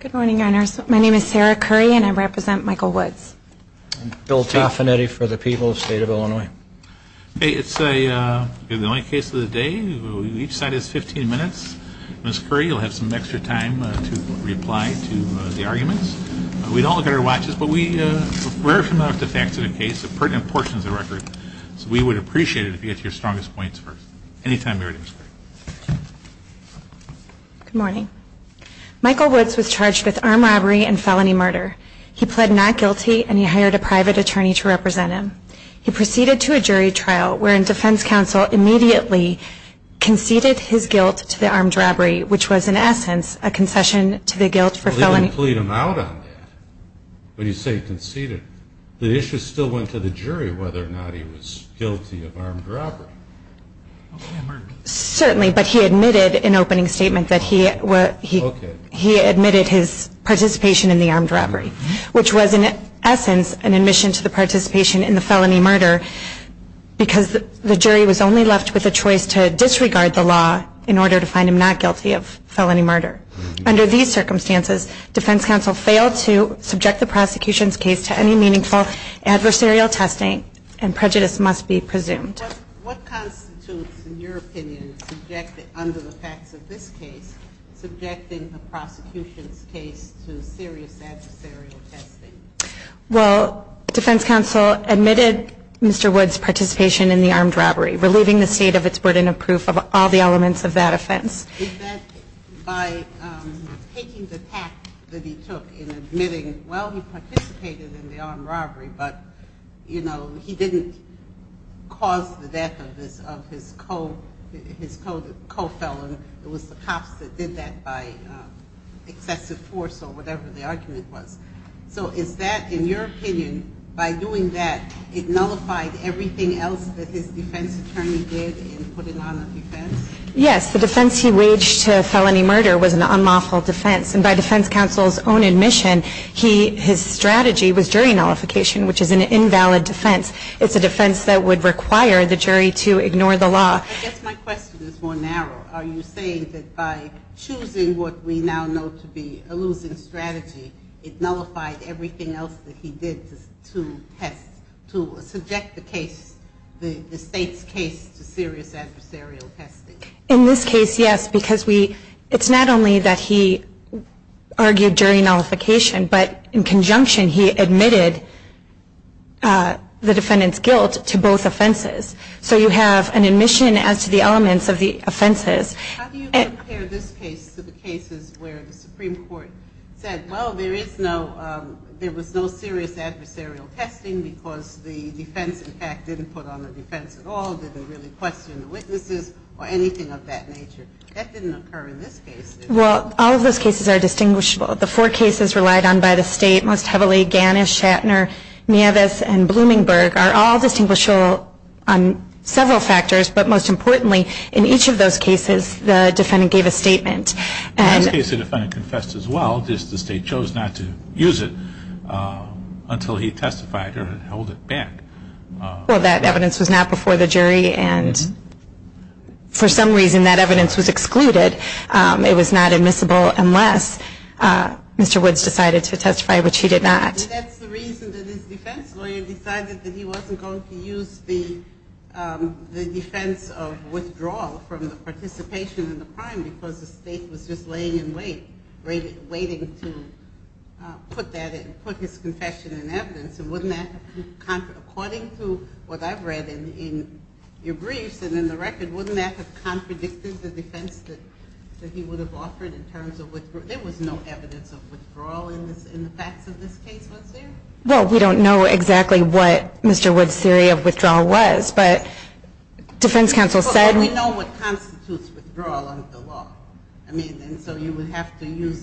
Good morning. My name is Sarah Curry and I represent Michael Woods. Bill Taffanetti for the people of the state of Illinois. It's the only case of the day. Each side has 15 minutes. Ms. Curry will have some extra time to reply to the arguments. We don't look at our watches, but we're familiar with the facts of the case and pertinent portions of the record. So we would appreciate it if you could get to your strongest points first. Anytime you're ready. Good morning. Michael Woods was charged with armed robbery and felony murder. He pled not guilty and he hired a private attorney to represent him. He proceeded to a jury trial wherein defense counsel immediately conceded his guilt to the armed robbery, which was in essence a concession to the guilt for felony. You didn't plead him out on that, but you say conceded. The issue still went to the jury whether or not he was guilty of armed robbery. Certainly, but he admitted in opening statement that he admitted his participation in the armed robbery, which was in essence an admission to the participation in the felony murder because the jury was only left with a choice to disregard the law in order to find him not guilty of felony murder. Under these circumstances, defense counsel failed to subject the prosecution's case to any meaningful adversarial testing and prejudice must be presumed. What constitutes, in your opinion, under the facts of this case, subjecting the prosecution's case to serious adversarial testing? Well, defense counsel admitted Mr. Woods' participation in the armed robbery, relieving the state of its burden of proof of all the elements of that offense. Is that by taking the tact that he took in admitting, well, he participated in the armed robbery, but, you know, he didn't cause the death of his co-felon. It was the cops that did that by excessive force or whatever the argument was. So is that, in your opinion, by doing that, it nullified everything else that his defense attorney did in putting on a defense? Yes. The defense he waged to felony murder was an unlawful defense. And by defense counsel's own admission, his strategy was jury nullification, which is an invalid defense. It's a defense that would require the jury to ignore the law. I guess my question is more narrow. Are you saying that by choosing what we now know to be a losing strategy, it nullified everything else that he did to test, to subject the case, the state's case to serious adversarial testing? In this case, yes, because it's not only that he argued jury nullification, but in conjunction he admitted the defendant's guilt to both offenses. So you have an admission as to the elements of the offenses. How do you compare this case to the cases where the Supreme Court said, well, there was no serious adversarial testing because the defense, in fact, didn't put on a defense at all, didn't really question the witnesses or anything of that nature? That didn't occur in this case, did it? Well, all of those cases are distinguishable. The four cases relied on by the state most heavily, Gannis, Shatner, Nieves, and Bloomingberg are all distinguishable on several factors. But most importantly, in each of those cases, the defendant gave a statement. In that case, the defendant confessed as well, just the state chose not to use it until he testified or held it back. Well, that evidence was not before the jury, and for some reason that evidence was excluded. It was not admissible unless Mr. Woods decided to testify, which he did not. That's the reason that his defense lawyer decided that he wasn't going to use the defense of withdrawal from the participation in the crime because the state was just laying in wait, waiting to put his confession in evidence. According to what I've read in your briefs and in the record, wouldn't that have contradicted the defense that he would have offered in terms of withdrawal? There was no evidence of withdrawal in the facts of this case, was there? Well, we don't know exactly what Mr. Woods' theory of withdrawal was. But defense counsel said- Well, we know what constitutes withdrawal under the law. And so you would have to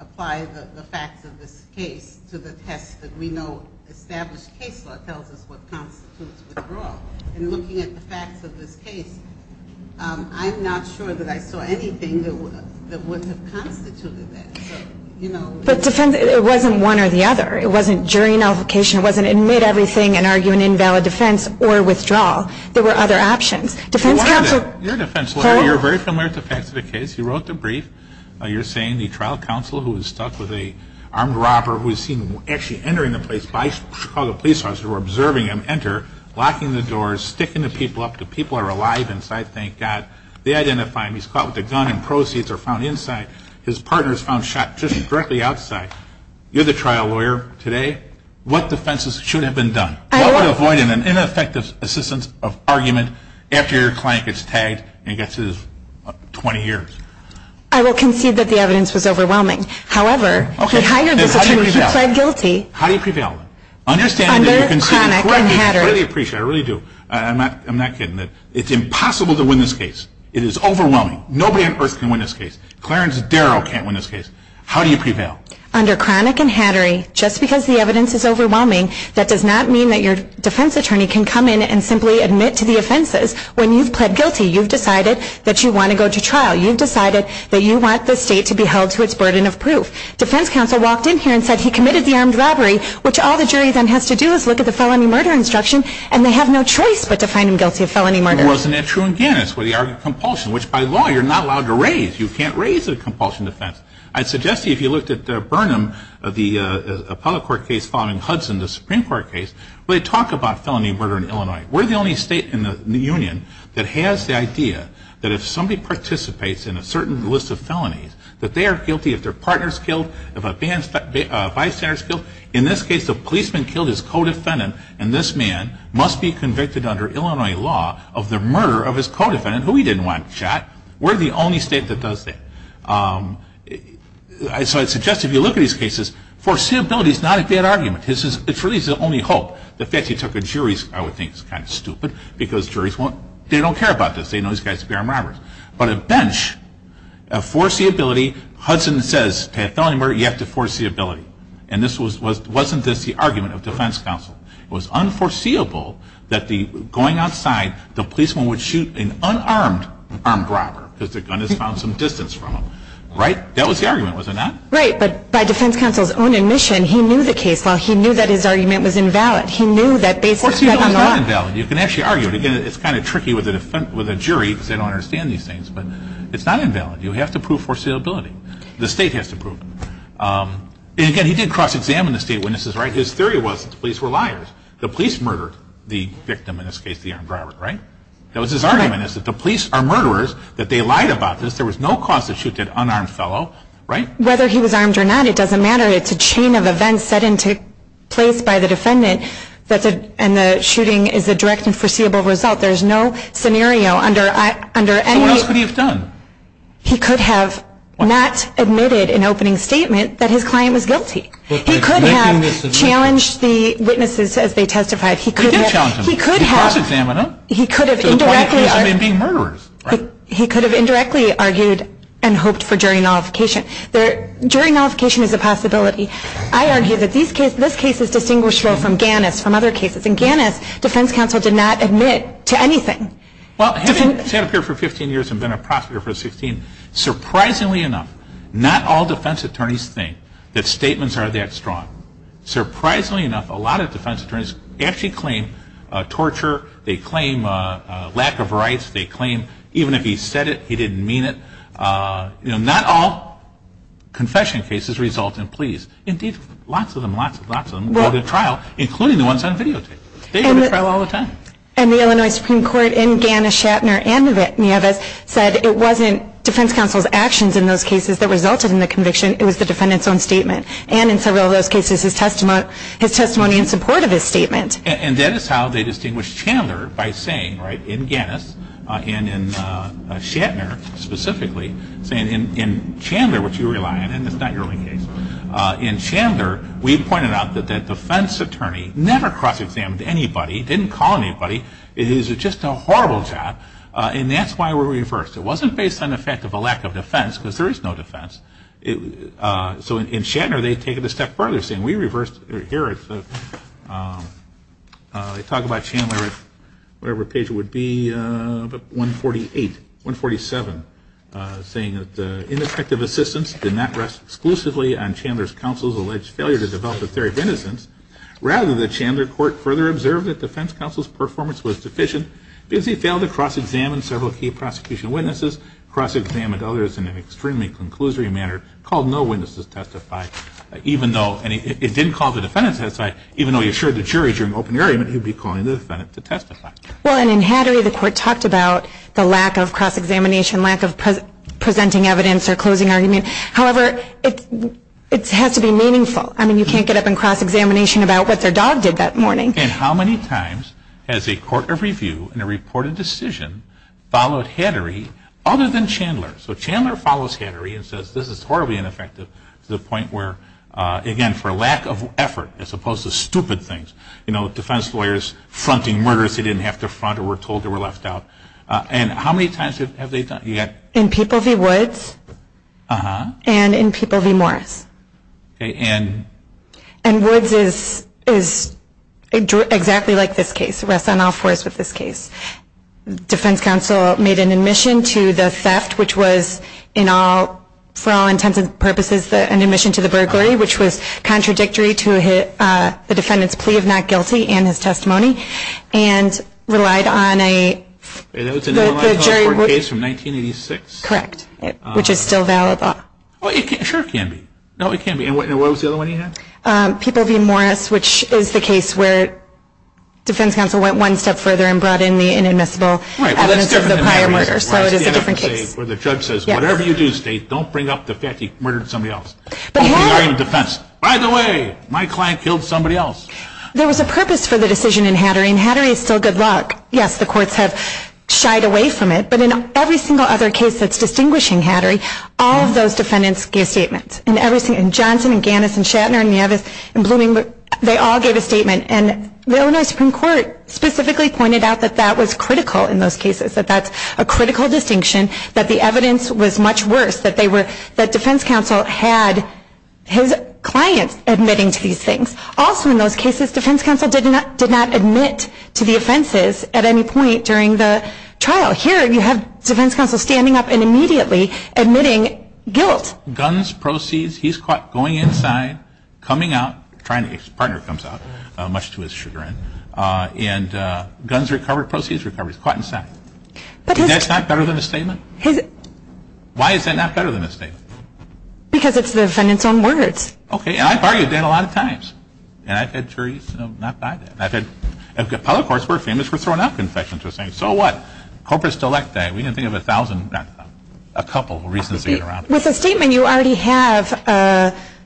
apply the facts of this case to the test that we know established case law tells us what constitutes withdrawal. And looking at the facts of this case, I'm not sure that I saw anything that wouldn't have constituted that. But defense, it wasn't one or the other. It wasn't jury nullification. It wasn't admit everything and argue an invalid defense or withdrawal. There were other options. Defense counsel- You're a defense lawyer. You're very familiar with the facts of the case. You wrote the brief. You're saying the trial counsel, who was stuck with an armed robber, who was seen actually entering the place by Chicago police officers who were observing him enter, locking the doors, sticking the people up. The people are alive inside, thank God. They identify him. He's caught with a gun and proceeds are found inside. His partner is found shot just directly outside. You're the trial lawyer today. What defenses should have been done? What would avoid an ineffective assistance of argument after your client gets tagged and gets his 20 years? I will concede that the evidence was overwhelming. However, he hired this attorney who pled guilty- How do you prevail? How do you prevail? Under chronic and hater- I really appreciate it. I really do. I'm not kidding. It's impossible to win this case. It is overwhelming. Nobody on earth can win this case. Clarence Darrow can't win this case. How do you prevail? Under chronic and hattery, just because the evidence is overwhelming, that does not mean that your defense attorney can come in and simply admit to the offenses. When you've pled guilty, you've decided that you want to go to trial. You've decided that you want the state to be held to its burden of proof. Defense counsel walked in here and said he committed the armed robbery, which all the jury then has to do is look at the felony murder instruction, and they have no choice but to find him guilty of felony murder. And wasn't that true in Gannis where they argued compulsion, which by law you're not allowed to raise. You can't raise a compulsion defense. I'd suggest to you if you looked at Burnham, the appellate court case following Hudson, the Supreme Court case, where they talk about felony murder in Illinois. We're the only state in the union that has the idea that if somebody participates in a certain list of felonies, that they are guilty if their partner is killed, if a bystander is killed. In this case, the policeman killed his co-defendant, and this man must be convicted under Illinois law of the murder of his co-defendant, who he didn't want shot. We're the only state that does that. So I'd suggest if you look at these cases, foreseeability is not a bad argument. It's really his only hope. The fact he took a jury, I would think is kind of stupid, because juries won't, they don't care about this. They know these guys are armed robbers. But a bench, a foreseeability, Hudson says to have felony murder, you have to foreseeability. And wasn't this the argument of defense counsel? It was unforeseeable that going outside, the policeman would shoot an unarmed armed robber because the gun has found some distance from him. Right? That was the argument, was it not? Right. But by defense counsel's own admission, he knew the case. Well, he knew that his argument was invalid. He knew that based on the law. You can actually argue it. Again, it's kind of tricky with a jury because they don't understand these things. But it's not invalid. You have to prove foreseeability. The state has to prove it. And again, he did cross-examine the state witnesses, right? His theory was the police were liars. The police murdered the victim, in this case the armed robber, right? That was his argument, is that the police are murderers, that they lied about this. There was no cause to shoot an unarmed fellow, right? Whether he was armed or not, it doesn't matter. It's a chain of events set into place by the defendant, and the shooting is a direct and foreseeable result. There's no scenario under any of these. So what else could he have done? He could have not admitted an opening statement that his client was guilty. He could have challenged the witnesses as they testified. He could have indirectly argued and hoped for jury nullification. Jury nullification is a possibility. I argue that this case is distinguishable from Gannis, from other cases. In Gannis, defense counsel did not admit to anything. Well, having sat up here for 15 years and been a prosecutor for 16, surprisingly enough, not all defense attorneys think that statements are that strong. Surprisingly enough, a lot of defense attorneys actually claim torture. They claim lack of rights. They claim even if he said it, he didn't mean it. You know, not all confession cases result in pleas. Indeed, lots of them, lots and lots of them go to trial, including the ones on videotapes. They go to trial all the time. And the Illinois Supreme Court in Gannis, Shatner, and Nieves said it wasn't defense counsel's actions in those cases that resulted in the conviction. It was the defendant's own statement. And in several of those cases, his testimony in support of his statement. And that is how they distinguish Chandler by saying, right, in Gannis, and in Shatner specifically, saying in Chandler, which you rely on, and it's not your only case, in Chandler we pointed out that that defense attorney never cross-examined anybody, didn't call anybody. It is just a horrible job. And that's why we reversed. It wasn't based on the fact of a lack of defense, because there is no defense. So in Shatner, they had taken it a step further, saying we reversed. Here they talk about Chandler at whatever page it would be, 148, 147, saying that ineffective assistance did not rest exclusively on Chandler's counsel's alleged failure to develop a theory of innocence. Rather, the Chandler court further observed that defense counsel's performance was deficient because he failed to cross-examine several key prosecution witnesses, cross-examine others in an extremely conclusory manner, called no witnesses to testify, even though it didn't call the defendant to testify, even though he assured the jury during open argument he would be calling the defendant to testify. Well, and in Hattery, the court talked about the lack of cross-examination, lack of presenting evidence or closing argument. However, it has to be meaningful. I mean, you can't get up and cross-examination about what their dog did that morning. And how many times has a court of review in a reported decision followed Hattery other than Chandler? So Chandler follows Hattery and says this is horribly ineffective to the point where, again, for lack of effort as opposed to stupid things, you know, defense lawyers fronting murders they didn't have to front or were told they were left out. And how many times have they done it? And Woods is exactly like this case. He rests on all fours with this case. Defense counsel made an admission to the theft, which was, for all intents and purposes, an admission to the burglary, which was contradictory to the defendant's plea of not guilty and his testimony, and relied on a jury ruling. That was an Illinois Health Board case from 1986? Correct. Which is still valid. Well, it sure can be. No, it can't be. And what was the other one you had? People v. Morris, which is the case where defense counsel went one step further and brought in the inadmissible evidence of the prior murder. Well, that's different than Hattery, where the judge says, whatever you do, State, don't bring up the fact that you murdered somebody else. But Hattery... That's the argument of defense. By the way, my client killed somebody else. There was a purpose for the decision in Hattery, and Hattery is still good luck. Yes, the courts have shied away from it, but in every single other case that's distinguishing Hattery, all of those defendants gave statements. Johnson and Gannis and Shatner and Nevis and Bloomingbrook, they all gave a statement. And the Illinois Supreme Court specifically pointed out that that was critical in those cases, that that's a critical distinction, that the evidence was much worse, that defense counsel had his clients admitting to these things. Also in those cases, defense counsel did not admit to the offenses at any point during the trial. Well, here you have defense counsel standing up and immediately admitting guilt. Guns, proceeds, he's caught going inside, coming out, trying to get his partner to come out, much to his chagrin, and guns recovered, proceeds recovered. He's caught inside. But his... That's not better than a statement? His... Why is that not better than a statement? Because it's the defendant's own words. Okay, and I've argued that a lot of times. And I've had juries not buy that. And public courts were famous for throwing out confessions, for saying, so what, corpus delicti. We can think of a thousand, a couple of reasons to get around. With a statement, you already have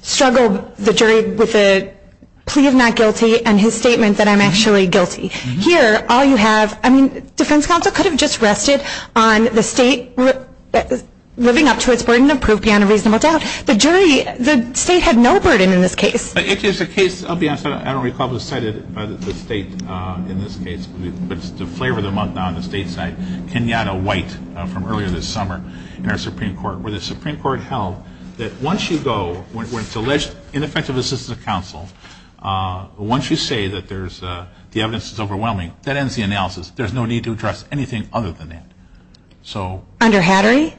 struggled the jury with a plea of not guilty and his statement that I'm actually guilty. Here, all you have, I mean, defense counsel could have just rested on the state living up to its burden of proof beyond a reasonable doubt. The jury, the state had no burden in this case. It is a case, I'll be honest, I don't recall if it was cited by the state in this case, but to flavor them up now on the state side, Kenyatta White, from earlier this summer in our Supreme Court, where the Supreme Court held that once you go, when it's alleged ineffective assistance of counsel, once you say that the evidence is overwhelming, that ends the analysis. There's no need to address anything other than that. Under Hattery?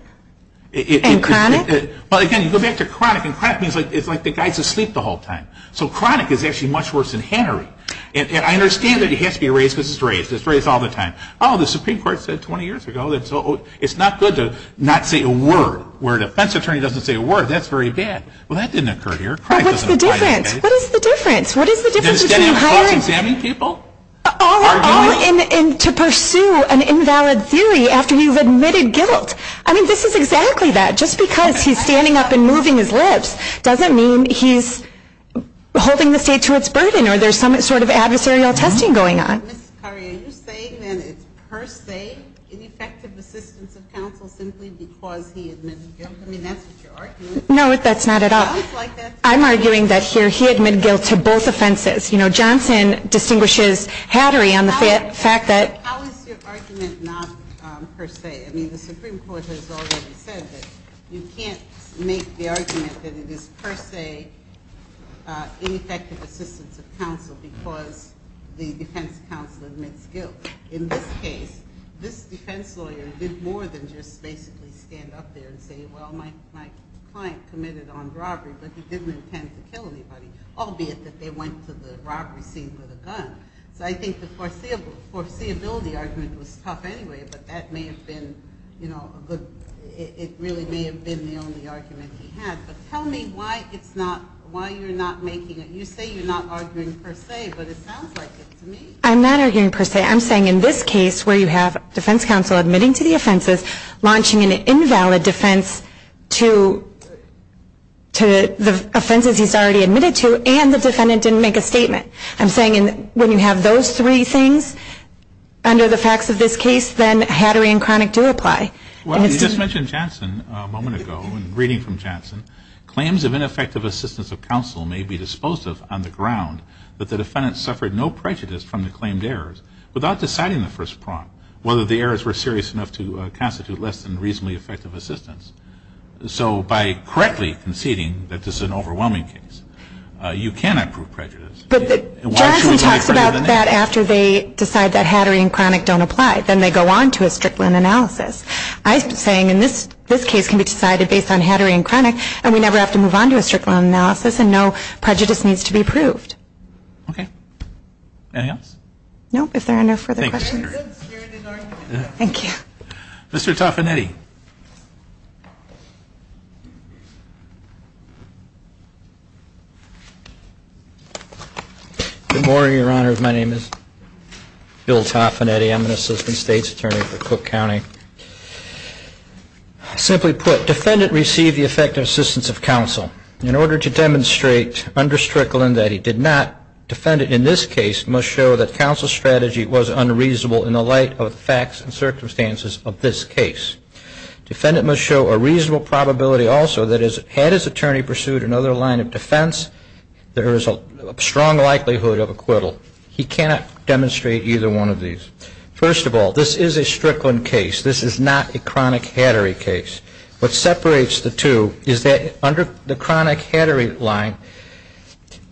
And Cronick? Well, again, you go back to Cronick, and Cronick means it's like the guy's asleep the whole time. So Cronick is actually much worse than Hattery. And I understand that he has to be raised because he's raised. He's raised all the time. Oh, the Supreme Court said 20 years ago that it's not good to not say a word. Where a defense attorney doesn't say a word, that's very bad. Cronick doesn't apply to Hattery. But what's the difference? What is the difference? What is the difference between hiring people? All in to pursue an invalid theory after you've admitted guilt. I mean, this is exactly that. Just because he's standing up and moving his lips doesn't mean he's holding the state to its burden or there's some sort of adversarial testing going on. Ms. Carrier, you're saying that it's per se ineffective assistance of counsel simply because he admitted guilt. I mean, that's what you're arguing. No, that's not at all. I'm arguing that here he admitted guilt to both offenses. You know, Johnson distinguishes Hattery on the fact that How is your argument not per se? I mean, the Supreme Court has already said that you can't make the argument that it is per se ineffective assistance of counsel because the defense counsel admits guilt. In this case, this defense lawyer did more than just basically stand up there and say, Well, my client committed armed robbery, but he didn't intend to kill anybody, albeit that they went to the robbery scene with a gun. So I think the foreseeability argument was tough anyway, but that may have been, you know, it really may have been the only argument he had. But tell me why you're not making it. You say you're not arguing per se, but it sounds like it to me. I'm not arguing per se. I'm saying in this case where you have defense counsel admitting to the offenses, launching an invalid defense to the offenses he's already admitted to, and the defendant didn't make a statement. I'm saying when you have those three things under the facts of this case, then Hattery and Kronick do apply. Well, you just mentioned Janssen a moment ago, and reading from Janssen, Claims of ineffective assistance of counsel may be disposed of on the ground that the defendant suffered no prejudice from the claimed errors without deciding the first prompt whether the errors were serious enough to constitute less than reasonably effective assistance. So by correctly conceding that this is an overwhelming case, you can approve prejudice. But Janssen talks about that after they decide that Hattery and Kronick don't apply. Then they go on to a Strickland analysis. I'm saying in this case can be decided based on Hattery and Kronick, and we never have to move on to a Strickland analysis, and no prejudice needs to be proved. Okay. Anything else? No, if there are no further questions. Thank you. Mr. Taffanetti. Good morning, Your Honor. My name is Bill Taffanetti. I'm an assistant state's attorney for Cook County. Simply put, defendant received the effective assistance of counsel. In order to demonstrate under Strickland that he did not, defendant in this case must show that counsel's strategy was unreasonable in the light of the facts and circumstances of this case. Defendant must show a reasonable probability also that had his attorney pursued another line of defense, there is a strong likelihood of acquittal. He cannot demonstrate either one of these. First of all, this is a Strickland case. This is not a Kronick-Hattery case. What separates the two is that under the Kronick-Hattery line,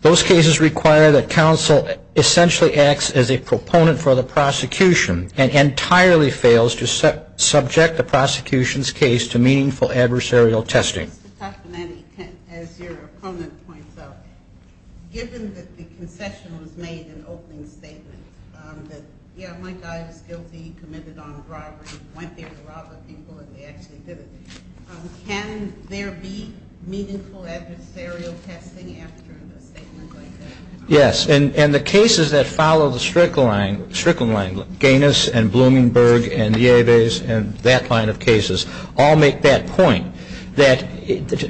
those cases require that counsel essentially acts as a proponent for the prosecution and entirely fails to subject the prosecution's case to meaningful adversarial testing. Mr. Taffanetti, as your opponent points out, given that the concession was made in the opening statement, that, yeah, my guy was guilty, committed armed robbery, went there to rob the people, and they actually did it, can there be meaningful adversarial testing after a statement like that? Yes. And the cases that follow the Strickland line, Gaines and Blumenberg and Nieves and that line of cases, all make that point that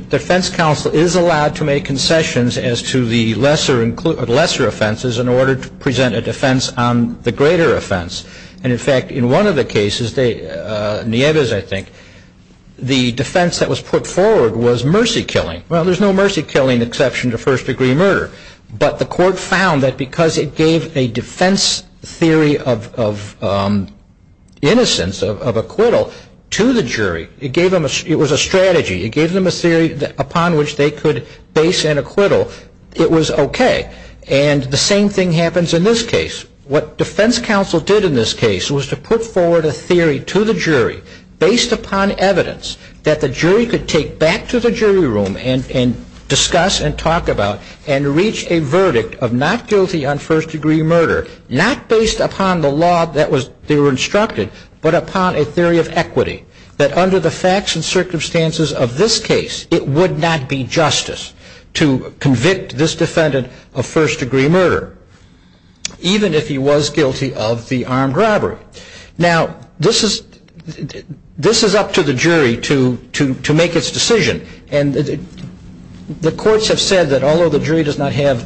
defense counsel is allowed to make concessions as to the lesser offenses in order to present a defense on the greater offense. And, in fact, in one of the cases, Nieves, I think, the defense that was put forward was mercy killing. Well, there's no mercy killing exception to first-degree murder. But the court found that because it gave a defense theory of innocence, of acquittal, to the jury, it was a strategy, it gave them a theory upon which they could base an acquittal, it was okay. And the same thing happens in this case. What defense counsel did in this case was to put forward a theory to the jury based upon evidence that the jury could take back to the jury room and discuss and talk about and reach a verdict of not guilty on first-degree murder, not based upon the law that they were instructed, but upon a theory of equity, that under the facts and circumstances of this case, it would not be justice to convict this defendant of first-degree murder. Even if he was guilty of the armed robbery. Now, this is up to the jury to make its decision. And the courts have said that although the jury does not have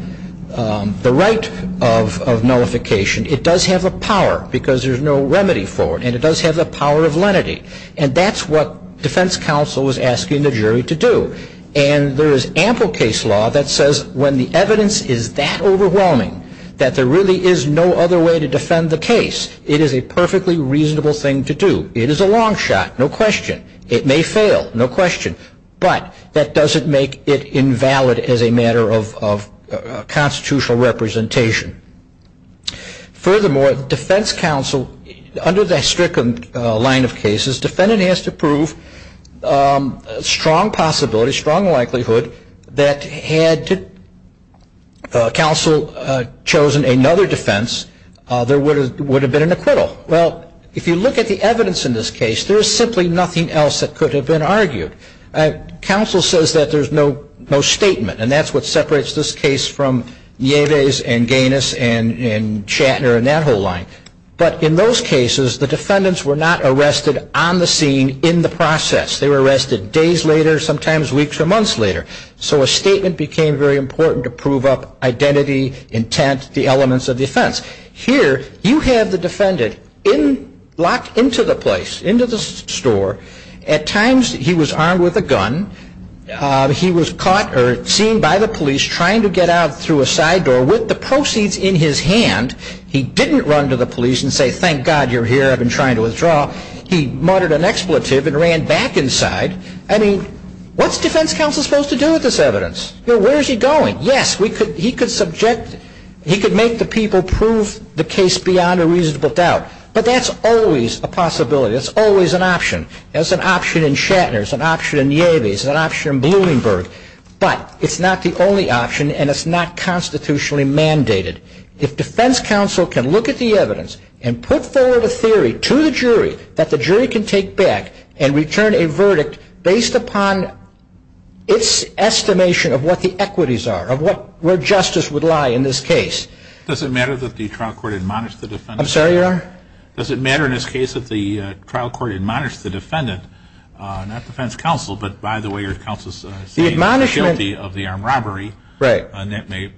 the right of nullification, it does have the power because there's no remedy for it. And it does have the power of lenity. And that's what defense counsel was asking the jury to do. And there is ample case law that says when the evidence is that overwhelming, that there really is no other way to defend the case. It is a perfectly reasonable thing to do. It is a long shot, no question. It may fail, no question. But that doesn't make it invalid as a matter of constitutional representation. Furthermore, defense counsel, under that stricken line of cases, defendant has to prove strong possibility, strong likelihood, that had counsel chosen another defense, there would have been an acquittal. Well, if you look at the evidence in this case, there is simply nothing else that could have been argued. Counsel says that there's no statement, and that's what separates this case from Yeves and Gaines and Shatner and that whole line. But in those cases, the defendants were not arrested on the scene in the process. They were arrested days later, sometimes weeks or months later. So a statement became very important to prove up identity, intent, the elements of defense. Here you have the defendant locked into the place, into the store. At times he was armed with a gun. He was caught or seen by the police trying to get out through a side door with the proceeds in his hand. He didn't run to the police and say, thank God you're here. I've been trying to withdraw. He muttered an expletive and ran back inside. I mean, what's defense counsel supposed to do with this evidence? Where is he going? Yes, he could subject, he could make the people prove the case beyond a reasonable doubt. But that's always a possibility. That's always an option. That's an option in Shatner. It's an option in Yeves. It's an option in Bloomberg. But it's not the only option, and it's not constitutionally mandated. If defense counsel can look at the evidence and put forward a theory to the jury, that the jury can take back and return a verdict based upon its estimation of what the equities are, of where justice would lie in this case. Does it matter that the trial court admonished the defendant? I'm sorry, Your Honor? Does it matter in this case that the trial court admonished the defendant, not defense counsel, but by the way your counsel is saying is guilty of the armed robbery, and that may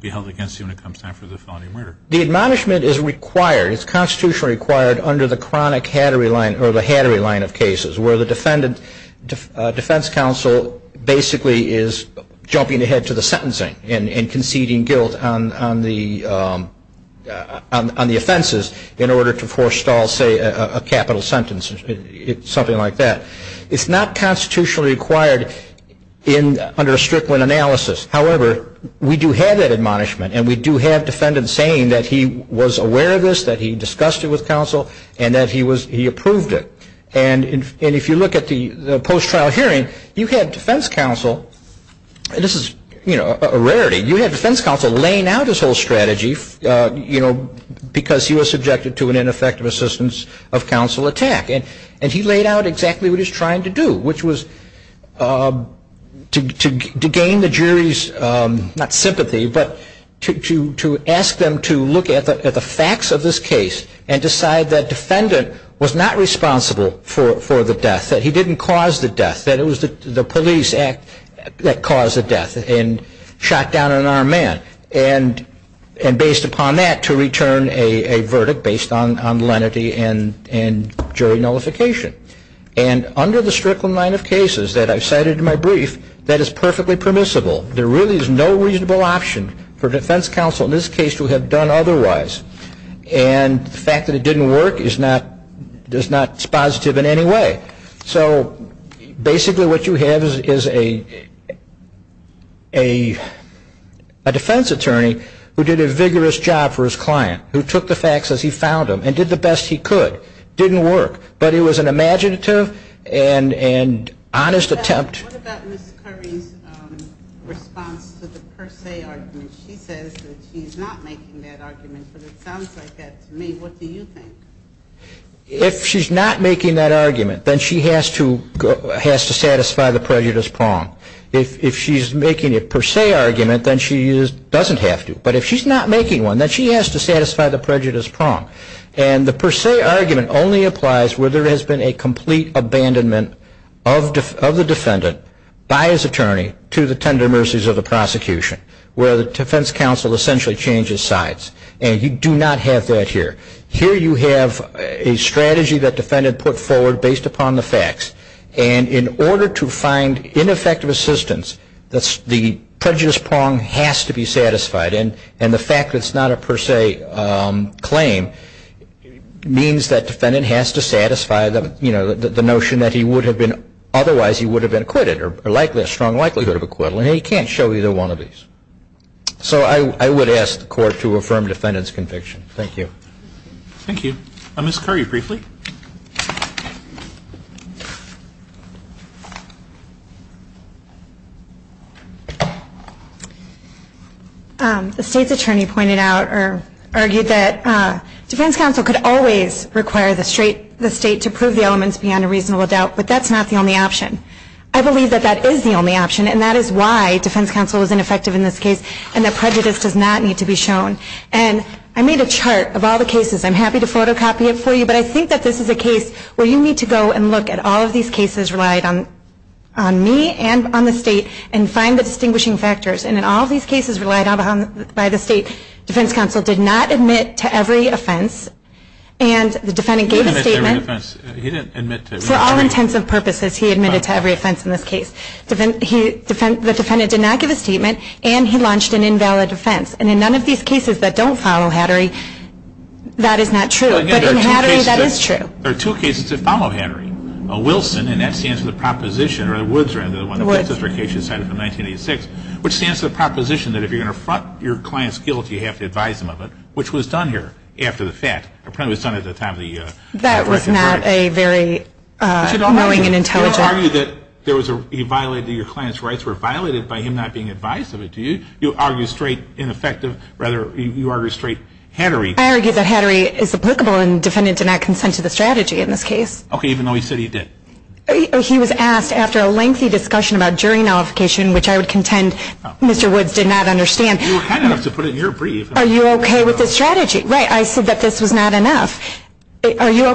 be held against you when it comes time for the felony murder? The admonishment is required. It's constitutionally required under the chronic Hattery line, or the Hattery line of cases, where the defense counsel basically is jumping ahead to the sentencing and conceding guilt on the offenses in order to forestall, say, a capital sentence, something like that. It's not constitutionally required under a Strickland analysis. However, we do have that admonishment, and we do have defendants saying that he was aware of this, that he discussed it with counsel, and that he approved it. And if you look at the post-trial hearing, you had defense counsel, and this is a rarity, you had defense counsel laying out his whole strategy because he was subjected to an ineffective assistance of counsel attack. And he laid out exactly what he was trying to do, which was to gain the jury's, not sympathy, but to ask them to look at the facts of this case and decide that defendant was not responsible for the death, that he didn't cause the death, that it was the police act that caused the death and shot down an armed man. And based upon that, to return a verdict based on lenity and jury nullification. And under the Strickland line of cases that I've cited in my brief, that is perfectly permissible. There really is no reasonable option for defense counsel in this case to have done otherwise. And the fact that it didn't work is not positive in any way. So basically what you have is a defense attorney who did a vigorous job for his client, who took the facts as he found them and did the best he could. It didn't work, but it was an imaginative and honest attempt. What about Ms. Curry's response to the per se argument? She says that she's not making that argument, but it sounds like that to me. What do you think? If she's not making that argument, then she has to satisfy the prejudice prong. If she's making a per se argument, then she doesn't have to. But if she's not making one, then she has to satisfy the prejudice prong. And the per se argument only applies where there has been a complete abandonment of the defendant by his attorney to the tender mercies of the prosecution, where the defense counsel essentially changes sides. And you do not have that here. Here you have a strategy that defendant put forward based upon the facts. And in order to find ineffective assistance, the prejudice prong has to be satisfied. And the fact that it's not a per se claim means that defendant has to satisfy the notion that he would have been otherwise he would have been acquitted or a strong likelihood of acquittal. And he can't show either one of these. So I would ask the court to affirm defendant's conviction. Thank you. Thank you. Ms. Curry, briefly. The state's attorney pointed out or argued that defense counsel could always require the state to prove the elements beyond a reasonable doubt, but that's not the only option. I believe that that is the only option, and that is why defense counsel is ineffective in this case and that prejudice does not need to be shown. And I made a chart of all the cases. I'm happy to photocopy it for you, but I think that this is a case where you need to go and look at all of these cases relied on me and on the state and find the distinguishing factors. And in all these cases relied on by the state, defense counsel did not admit to every offense. And the defendant gave a statement. He didn't admit to every offense. For all intents and purposes, he admitted to every offense in this case. The defendant did not give a statement, and he launched an invalid offense. And in none of these cases that don't follow Hattery, that is not true. But in Hattery, that is true. There are two cases that follow Hattery. Wilson, and that stands for the proposition, or Woods, rather, the one that Woods' application cited from 1986, which stands for the proposition that if you're going to front your client's guilt, you have to advise them of it, which was done here after the fact. It probably was done at the time of the second verdict. That was not a very knowing and intelligent. But you don't argue that he violated your client's rights were violated by him not being advised of it, do you? You argue straight ineffective. Rather, you argue straight Hattery. I argue that Hattery is applicable, and the defendant did not consent to the strategy in this case. Okay, even though he said he did. He was asked after a lengthy discussion about jury nullification, which I would contend Mr. Woods did not understand. You were kind enough to put it in your brief. Are you okay with this strategy? Right, I said that this was not enough. Were you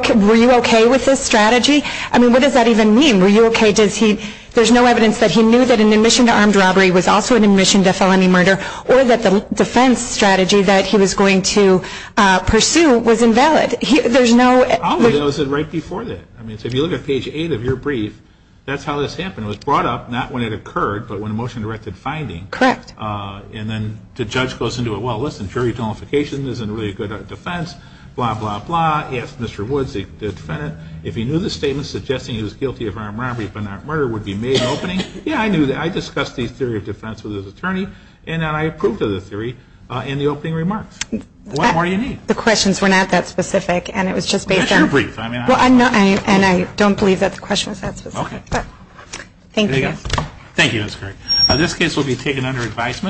okay with this strategy? I mean, what does that even mean? Were you okay? There's no evidence that he knew that an admission to armed robbery was also an admission to felony murder or that the defense strategy that he was going to pursue was invalid. There's no evidence. I only noticed it right before that. I mean, if you look at page 8 of your brief, that's how this happened. It was brought up not when it occurred, but when a motion directed finding. Correct. And then the judge goes into it, well, listen, jury nullification isn't really a good defense, blah, blah, blah. He asked Mr. Woods, the defendant, if he knew the statement suggesting he was guilty of armed robbery but not murder would be made opening. Yeah, I knew that. I discussed the theory of defense with his attorney, and then I approved of the theory in the opening remarks. What more do you need? The questions were not that specific, and it was just based on. That's your brief. And I don't believe that the question was that specific. Okay. Thank you. There you go. Thank you, Ms. Kirk. This case will be taken under advisement.